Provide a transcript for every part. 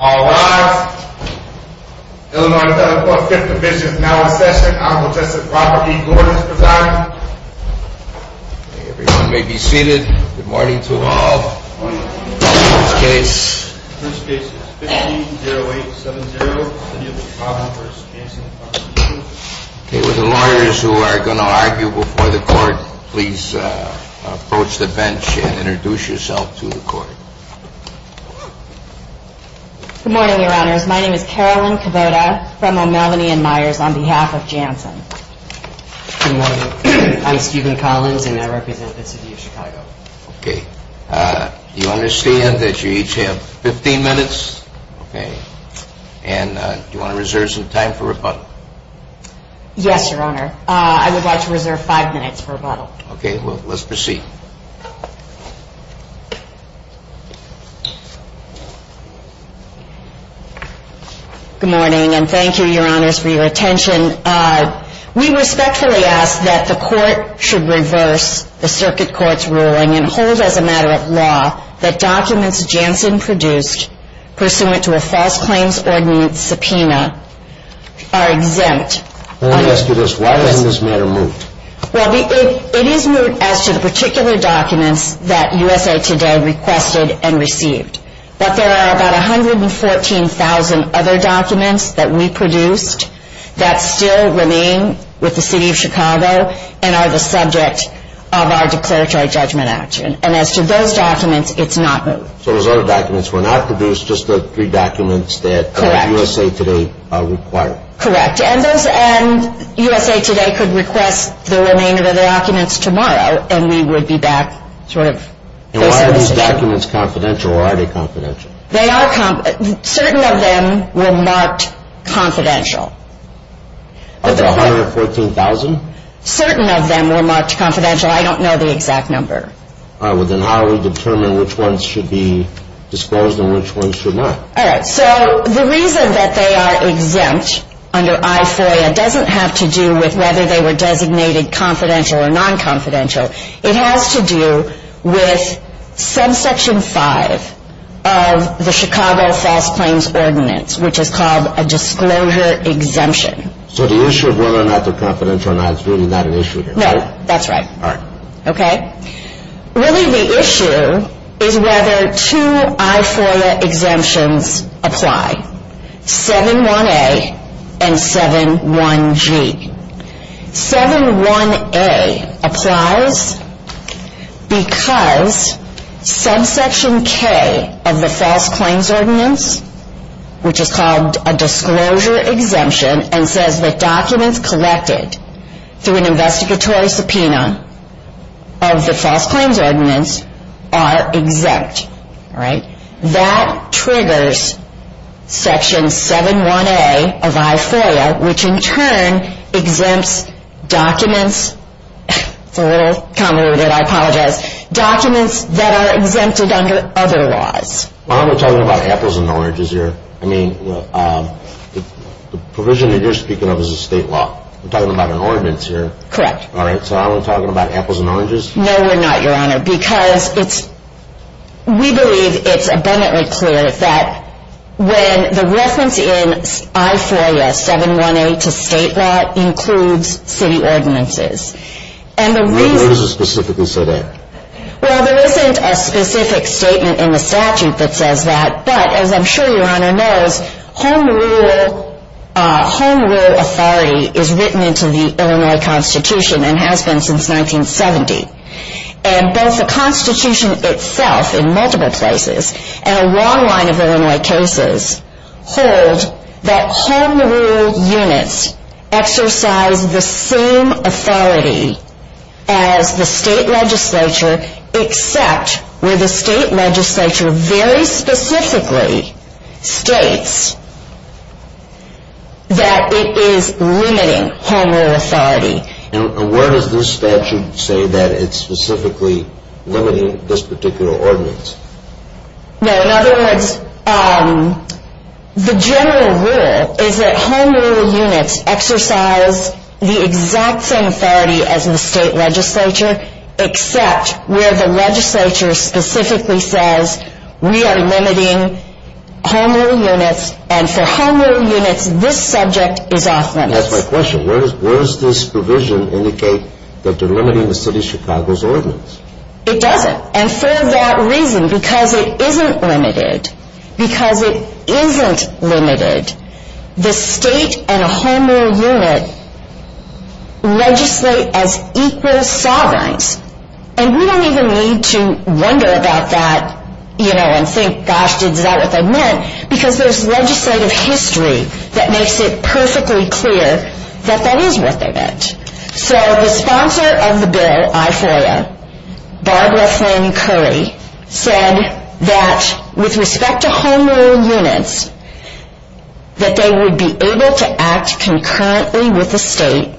All rise. Illinois Telephone 5th Division is now in session. Honorable Justice Robert B. Gordon is presiding. Everyone may be seated. Good morning to all. First case is 15-0870. With the lawyers who are going to argue before the court, please approach the bench and introduce yourself to the court. Good morning, Your Honors. My name is Carolyn Cavoda from O'Melanie and Myers on behalf of Janssen. Good morning. I'm Stephen Collins and I represent the City of Chicago. Okay. Do you understand that you each have 15 minutes? Okay. And do you want to reserve some time for rebuttal? Yes, Your Honor. I would like to reserve five minutes for rebuttal. Okay. Let's proceed. Good morning and thank you, Your Honors, for your attention. We respectfully ask that the court should reverse the circuit court's ruling and hold as a matter of law that documents Janssen produced pursuant to a false claims ordinance subpoena are exempt. May I ask you this? Why is this matter moot? Well, it is moot as to the particular documents that USA Today requested and received. But there are about 114,000 other documents that we produced that still remain with the City of Chicago and are the subject of our declaratory judgment action. And as to those documents, it's not moot. So those other documents were not produced, just the three documents that USA Today required? Correct. And USA Today could request the remainder of the documents tomorrow and we would be back, sort of. And are these documents confidential or are they confidential? They are confidential. Certain of them were marked confidential. Of the 114,000? Certain of them were marked confidential. I don't know the exact number. All right. Well, then how do we determine which ones should be disclosed and which ones should not? All right. So the reason that they are exempt under I-FOIA doesn't have to do with whether they were designated confidential or non-confidential. It has to do with subsection 5 of the Chicago False Claims Ordinance, which is called a disclosure exemption. So the issue of whether or not they're confidential or not is really not an issue here, right? No. That's right. All right. Really the issue is whether two I-FOIA exemptions apply, 7-1-A and 7-1-G. 7-1-A applies because subsection K of the False Claims Ordinance, which is called a disclosure exemption, and says that documents collected through an investigatory subpoena of the False Claims Ordinance are exempt. All right. That triggers section 7-1-A of I-FOIA, which in turn exempts documents. It's a little convoluted. I apologize. Documents that are exempted under other laws. Well, I'm not talking about apples and oranges here. I mean, the provision that you're speaking of is a state law. We're talking about an ordinance here. Correct. All right. So I'm not talking about apples and oranges. No, we're not, Your Honor, because we believe it's abundantly clear that when the reference in I-FOIA 7-1-A to state law includes city ordinances. What does it specifically say there? Well, there isn't a specific statement in the statute that says that. But as I'm sure Your Honor knows, home rule authority is written into the Illinois Constitution and has been since 1970. And both the Constitution itself in multiple places and a long line of Illinois cases hold that home rule units exercise the same authority as the state legislature, except where the state legislature very specifically states that it is limiting home rule authority. And where does this statute say that it's specifically limiting this particular ordinance? No, in other words, the general rule is that home rule units exercise the exact same authority as the state legislature, except where the legislature specifically says we are limiting home rule units, and for home rule units, this subject is off limits. That's my question. Where does this provision indicate that they're limiting the city of Chicago's ordinance? It doesn't. And for that reason, because it isn't limited, because it isn't limited, the state and a home rule unit legislate as equal sovereigns. And we don't even need to wonder about that, you know, and think, gosh, is that what they meant? Because there's legislative history that makes it perfectly clear that that is what they meant. So the sponsor of the bill, I FOIA, Barbara Flynn Curry, said that with respect to home rule units, that they would be able to act concurrently with the state,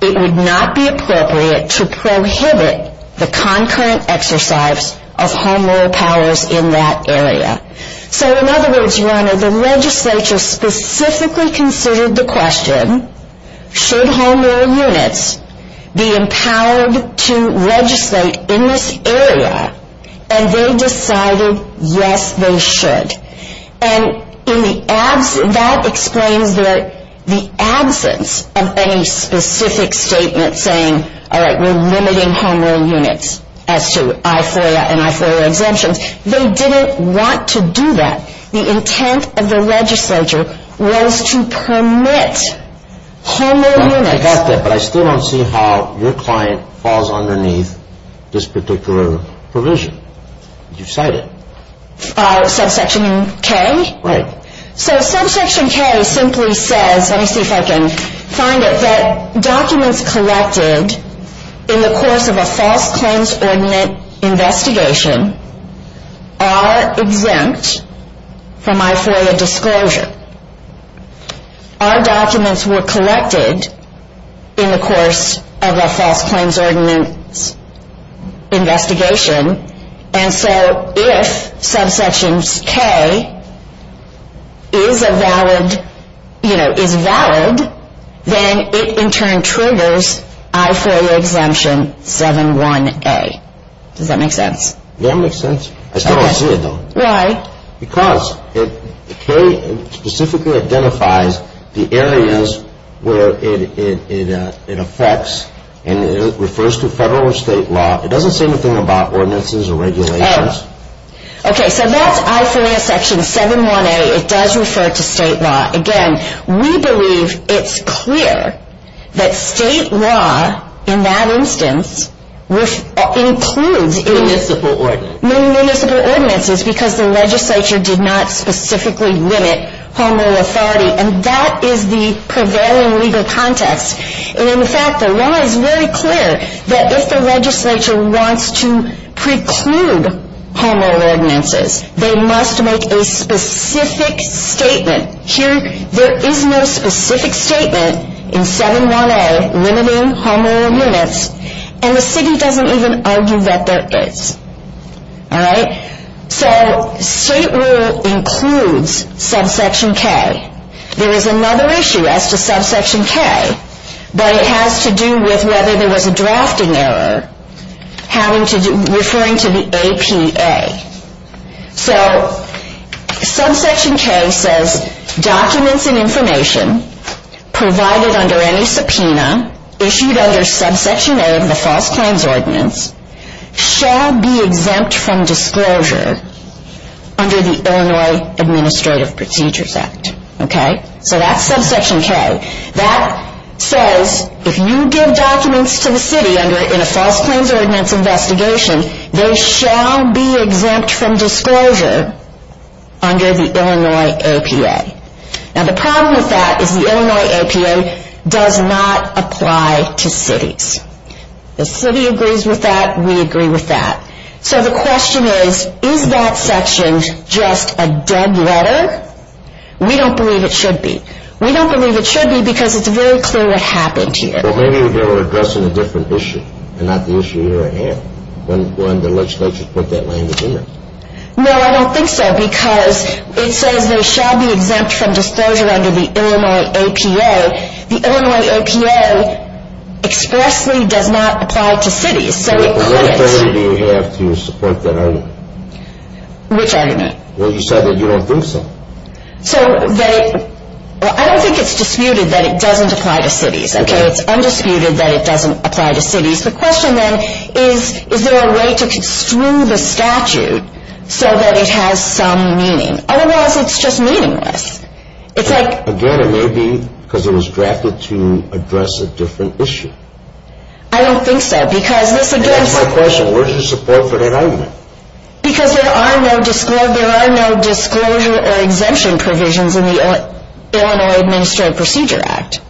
it would not be appropriate to prohibit the concurrent exercise of home rule powers in that area. So in other words, Your Honor, the legislature specifically considered the question, should home rule units be empowered to legislate in this area? And they decided, yes, they should. And that explains the absence of any specific statement saying, all right, we're limiting home rule units as to I FOIA and I FOIA exemptions. They didn't want to do that. The intent of the legislature was to permit home rule units. I got that, but I still don't see how your client falls underneath this particular provision that you've cited. Subsection K? Right. So subsection K simply says, let me see if I can find it, that documents collected in the course of a false claims ordinance investigation are exempt from I FOIA disclosure. Our documents were collected in the course of a false claims ordinance investigation. And so if subsection K is a valid, you know, is valid, then it in turn triggers I FOIA exemption 71A. Does that make sense? That makes sense. I still don't see it though. Why? Because K specifically identifies the areas where it affects and refers to federal or state law. It doesn't say anything about ordinances or regulations. Okay, so that's I FOIA section 71A. It does refer to state law. Again, we believe it's clear that state law in that instance includes municipal ordinances because the legislature did not specifically limit home rule authority. And that is the prevailing legal context. And in fact, the law is very clear that if the legislature wants to preclude home rule ordinances, they must make a specific statement. Here, there is no specific statement in 71A limiting home rule limits. And the city doesn't even argue that there is. All right? So state rule includes subsection K. There is another issue as to subsection K, but it has to do with whether there was a drafting error referring to the APA. So subsection K says documents and information provided under any subpoena issued under subsection A of the False Claims Ordinance shall be exempt from disclosure under the Illinois Administrative Procedures Act. Okay? So that's subsection K. That says if you give documents to the city in a False Claims Ordinance investigation, they shall be exempt from disclosure under the Illinois APA. Now the problem with that is the Illinois APA does not apply to cities. The city agrees with that. We agree with that. So the question is, is that section just a dead letter? We don't believe it should be. We don't believe it should be because it's very clear what happened here. Well, maybe they were addressing a different issue and not the issue here at hand when the legislature put that language in there. No, I don't think so, because it says they shall be exempt from disclosure under the Illinois APA. The Illinois APA expressly does not apply to cities. Wait, but what argument do you have to support that argument? Which argument? Well, you said that you don't think so. Well, I don't think it's disputed that it doesn't apply to cities. Okay? It's undisputed that it doesn't apply to cities. The question then is, is there a way to construe the statute so that it has some meaning? Otherwise, it's just meaningless. Again, it may be because it was drafted to address a different issue. I don't think so. That's my question. Where's your support for that argument? Because there are no disclosure or exemption provisions in the Illinois Administrative Procedure Act.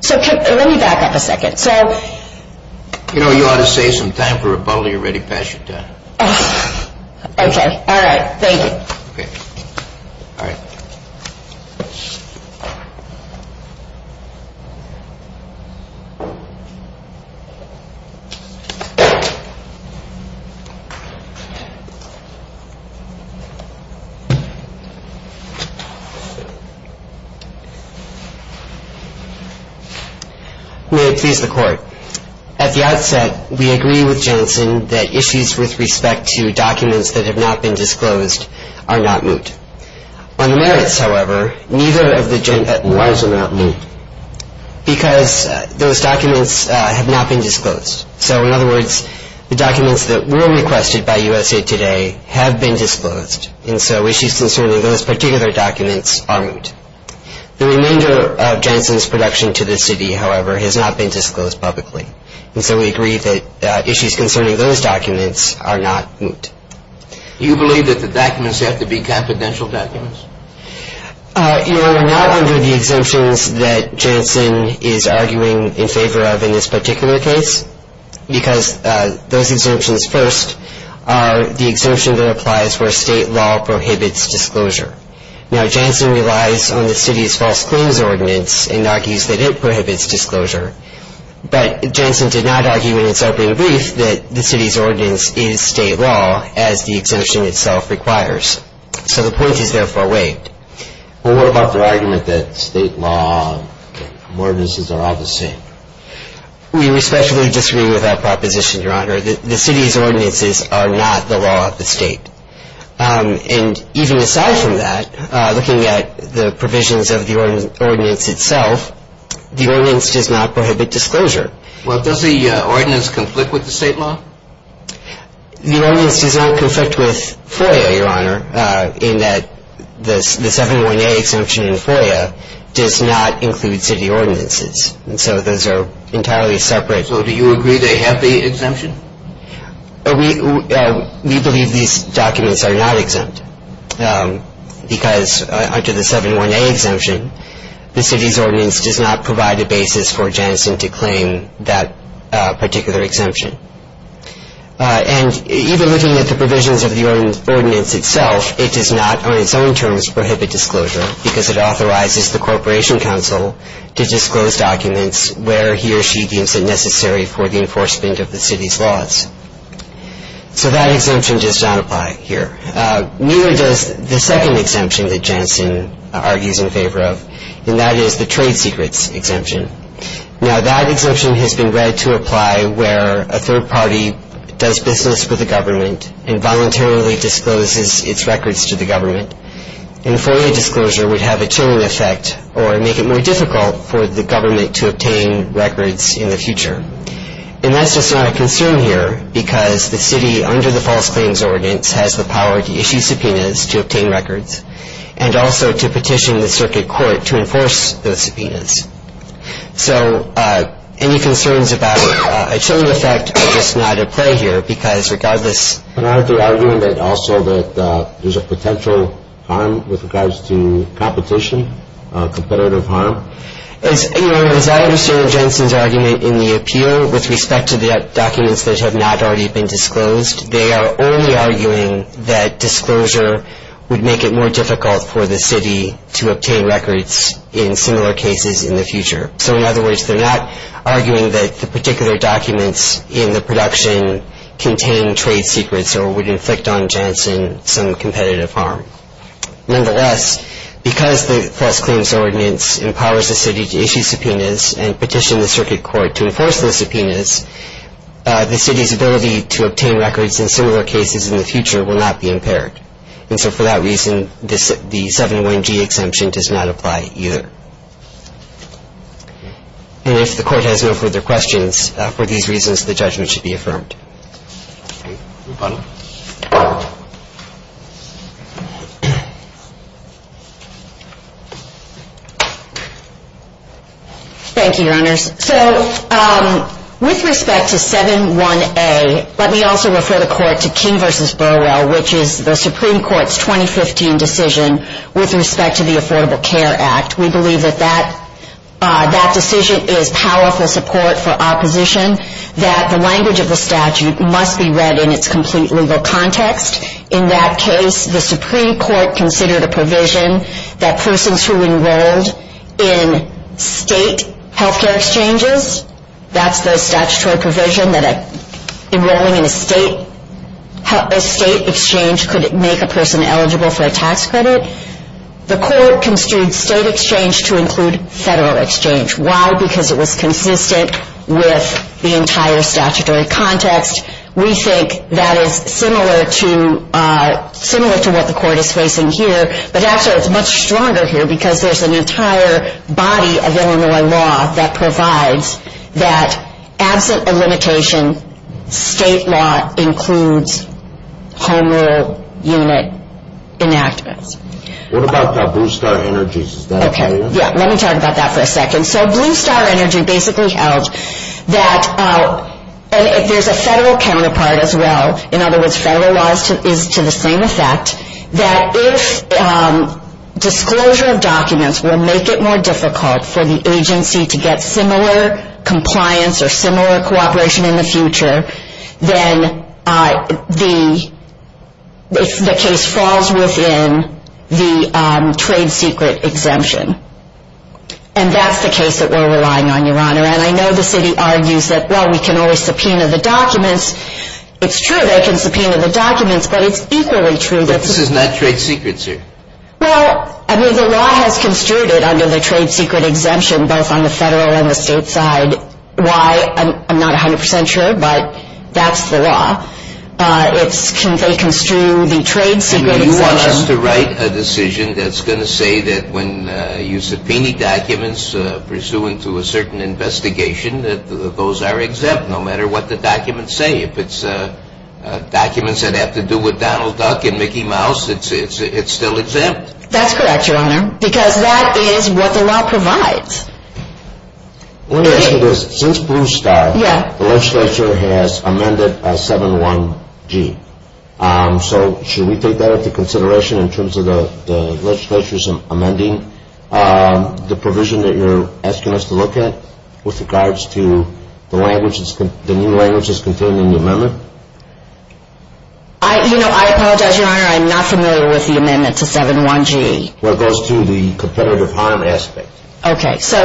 So, let me back up a second. You know, you ought to save some time for rebuttal. You're ready to pass your time. Okay. All right. Thank you. All right. May it please the Court. At the outset, we agree with Jensen that issues with respect to documents that have not been disclosed are not moot. On the merits, however, neither of the gen... Why is it not moot? Because those documents have not been disclosed. So, in other words, the documents that were requested by USA Today have been disclosed. And so issues concerning those particular documents are moot. The remainder of Jensen's production to the city, however, has not been disclosed publicly. And so we agree that issues concerning those documents are not moot. Do you believe that the documents have to be confidential documents? You know, we're not under the exemptions that Jensen is arguing in favor of in this particular case because those exemptions first are the exemption that applies where state law prohibits disclosure. Now, Jensen relies on the city's false claims ordinance and argues that it prohibits disclosure. But Jensen did not argue in its opening brief that the city's ordinance is state law as the exemption itself requires. So the point is, therefore, waived. Well, what about the argument that state law and ordinances are all the same? We respectfully disagree with that proposition, Your Honor. The city's ordinances are not the law of the state. And even aside from that, looking at the provisions of the ordinance itself, the ordinance does not prohibit disclosure. Well, does the ordinance conflict with the state law? The ordinance does not conflict with FOIA, Your Honor, in that the 718 exemption in FOIA does not include city ordinances. And so those are entirely separate. So do you agree they have the exemption? We believe these documents are not exempt because under the 718 exemption, the city's ordinance does not provide a basis for Jensen to claim that particular exemption. And even looking at the provisions of the ordinance itself, it does not, on its own terms, prohibit disclosure because it authorizes the Corporation Counsel to disclose documents where he or she deems it necessary for the enforcement of the city's laws. So that exemption does not apply here. Neither does the second exemption that Jensen argues in favor of, and that is the trade secrets exemption. Now, that exemption has been read to apply where a third party does business with the government and voluntarily discloses its records to the government. And FOIA disclosure would have a chilling effect or make it more difficult for the government to obtain records in the future. And that's just not a concern here because the city, under the false claims ordinance, has the power to issue subpoenas to obtain records and also to petition the circuit court to enforce those subpoenas. So any concerns about a chilling effect are just not at play here because regardless. But aren't they arguing also that there's a potential harm with regards to competition, competitive harm? As I understand Jensen's argument in the appeal with respect to the documents that have not already been disclosed, they are only arguing that disclosure would make it more difficult for the city to obtain records in similar cases in the future. So in other words, they're not arguing that the particular documents in the production contain trade secrets or would inflict on Jensen some competitive harm. Nonetheless, because the false claims ordinance empowers the city to issue subpoenas and petition the circuit court to enforce those subpoenas, the city's ability to obtain records in similar cases in the future will not be impaired. And so for that reason, the 7-1-G exemption does not apply either. And if the court has no further questions, for these reasons, the judgment should be affirmed. Thank you, Your Honors. So with respect to 7-1-A, let me also refer the court to King v. Burwell, which is the Supreme Court's 2015 decision with respect to the Affordable Care Act. We believe that that decision is powerful support for opposition, that the language of the statute must be read in its complete legal context. In that case, the Supreme Court considered a provision that persons who enrolled in state health care exchanges, that's the statutory provision that enrolling in a state exchange could make a person eligible for a tax credit. The court construed state exchange to include federal exchange. Why? Because it was consistent with the entire statutory context. We think that is similar to what the court is facing here, but actually it's much stronger here because there's an entire body of Illinois law that provides that absent a limitation, state law includes home rule unit enactments. What about Blue Star Energy? Let me talk about that for a second. So Blue Star Energy basically held that if there's a federal counterpart as well, in other words, federal law is to the same effect, that if disclosure of documents will make it more difficult for the agency to get similar compliance or similar cooperation in the future, then the case falls within the trade secret exemption. And that's the case that we're relying on, Your Honor. And I know the city argues that, well, we can always subpoena the documents. It's true they can subpoena the documents, but it's equally true that this is not trade secret, sir. Well, I mean, the law has construed it under the trade secret exemption, both on the federal and the state side. Why? I'm not 100 percent sure, but that's the law. It's can they construe the trade secret exemption? You want us to write a decision that's going to say that when you subpoena documents pursuant to a certain investigation, that those are exempt, no matter what the documents say. If it's documents that have to do with Donald Duck and Mickey Mouse, it's still exempt. That's correct, Your Honor, because that is what the law provides. Since Blue Star, the legislature has amended 7-1-G. So should we take that into consideration in terms of the legislature's amending the provision that you're asking us to look at with regards to the new language that's contained in the amendment? You know, I apologize, Your Honor, I'm not familiar with the amendment to 7-1-G. Well, it goes to the competitive harm aspect. Okay, so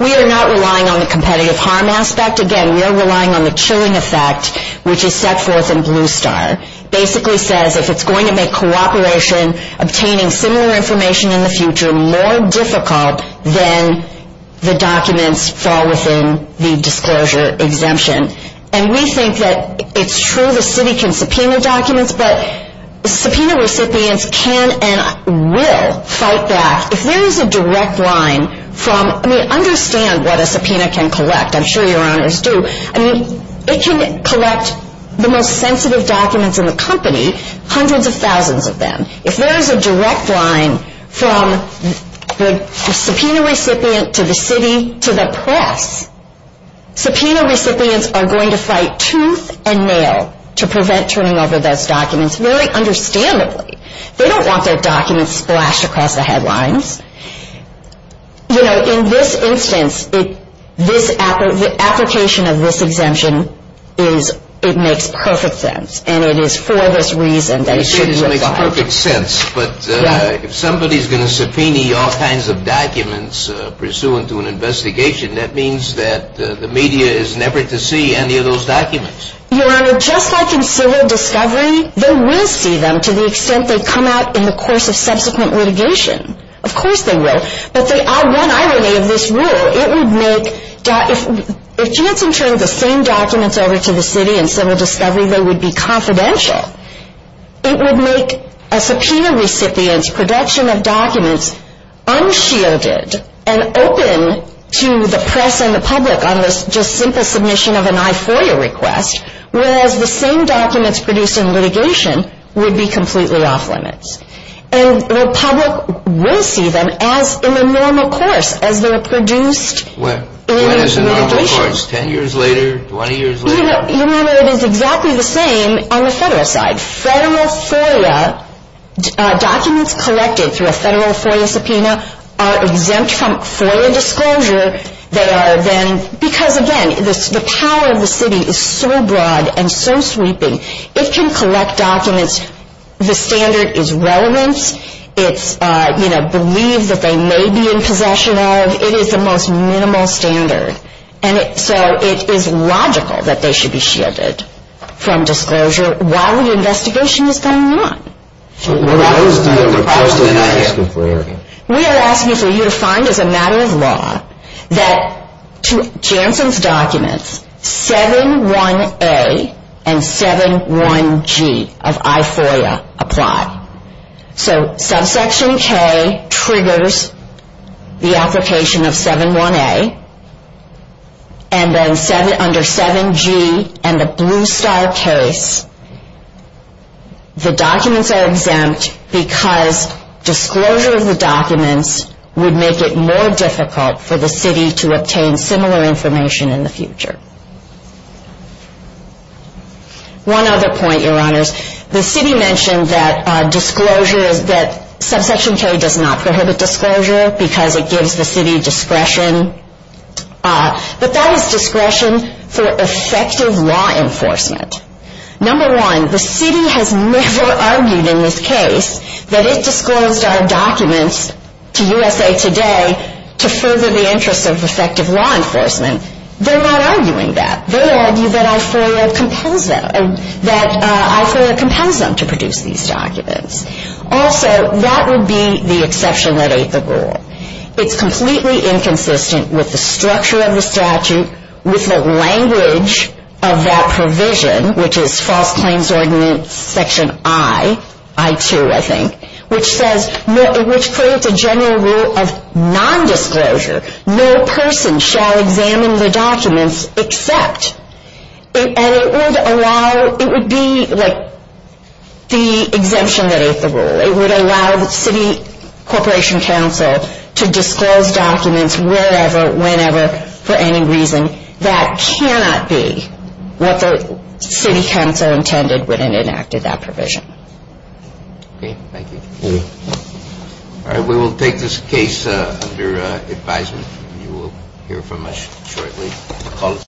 we are not relying on the competitive harm aspect. Again, we are relying on the chilling effect, which is set forth in Blue Star. It basically says if it's going to make cooperation, obtaining similar information in the future, more difficult than the documents fall within the disclosure exemption. And we think that it's true the city can subpoena documents, but subpoena recipients can and will fight back. If there is a direct line from, I mean, understand what a subpoena can collect. I'm sure Your Honors do. I mean, it can collect the most sensitive documents in the company, hundreds of thousands of them. If there is a direct line from the subpoena recipient to the city to the press, subpoena recipients are going to fight tooth and nail to prevent turning over those documents, very understandably. They don't want their documents splashed across the headlines. You know, in this instance, the application of this exemption, it makes perfect sense. And it is for this reason that it should make perfect sense. But if somebody is going to subpoena all kinds of documents pursuant to an investigation, that means that the media is never to see any of those documents. Your Honor, just like in civil discovery, they will see them to the extent they come out in the course of subsequent litigation. Of course they will. But the one irony of this rule, it would make, if Jansen turned the same documents over to the city in civil discovery, they would be confidential. It would make a subpoena recipient's production of documents unshielded and open to the press and the public on this just simple submission of an I-4U request, whereas the same documents produced in litigation would be completely off-limits. And the public will see them as in the normal course, as they're produced in litigation. When is the normal course, 10 years later, 20 years later? Your Honor, it is exactly the same on the federal side. Federal FOIA documents collected through a federal FOIA subpoena are exempt from FOIA disclosure. They are then, because again, the power of the city is so broad and so sweeping, it can collect documents. The standard is relevance. It's, you know, believe that they may be in possession of. It is the most minimal standard. And so it is logical that they should be shielded from disclosure while the investigation is going on. So what is the request of the NIA? We are asking for you to find as a matter of law that Jansen's documents, 7-1-A and 7-1-G of I-4U apply. So subsection K triggers the application of 7-1-A, and then under 7-G and the Blue Star case, the documents are exempt because disclosure of the documents would make it more difficult for the city to obtain similar information in the future. One other point, Your Honors. The city mentioned that subsection K does not prohibit disclosure because it gives the city discretion. But that is discretion for effective law enforcement. Number one, the city has never argued in this case that it disclosed our documents to USA Today to further the interests of effective law enforcement. They're not arguing that. They argue that I-4U compels them, that I-4U compels them to produce these documents. Also, that would be the exception that ate the rule. It's completely inconsistent with the structure of the statute, with the language of that provision, which is False Claims Ordinance Section I, I-2, I think, which says, which creates a general rule of nondisclosure. No person shall examine the documents except. And it would allow, it would be like the exemption that ate the rule. It would allow the city corporation council to disclose documents wherever, whenever, for any reason. That cannot be what the city council intended when it enacted that provision. Okay, thank you. All right, we will take this case under advisement. You will hear from us shortly.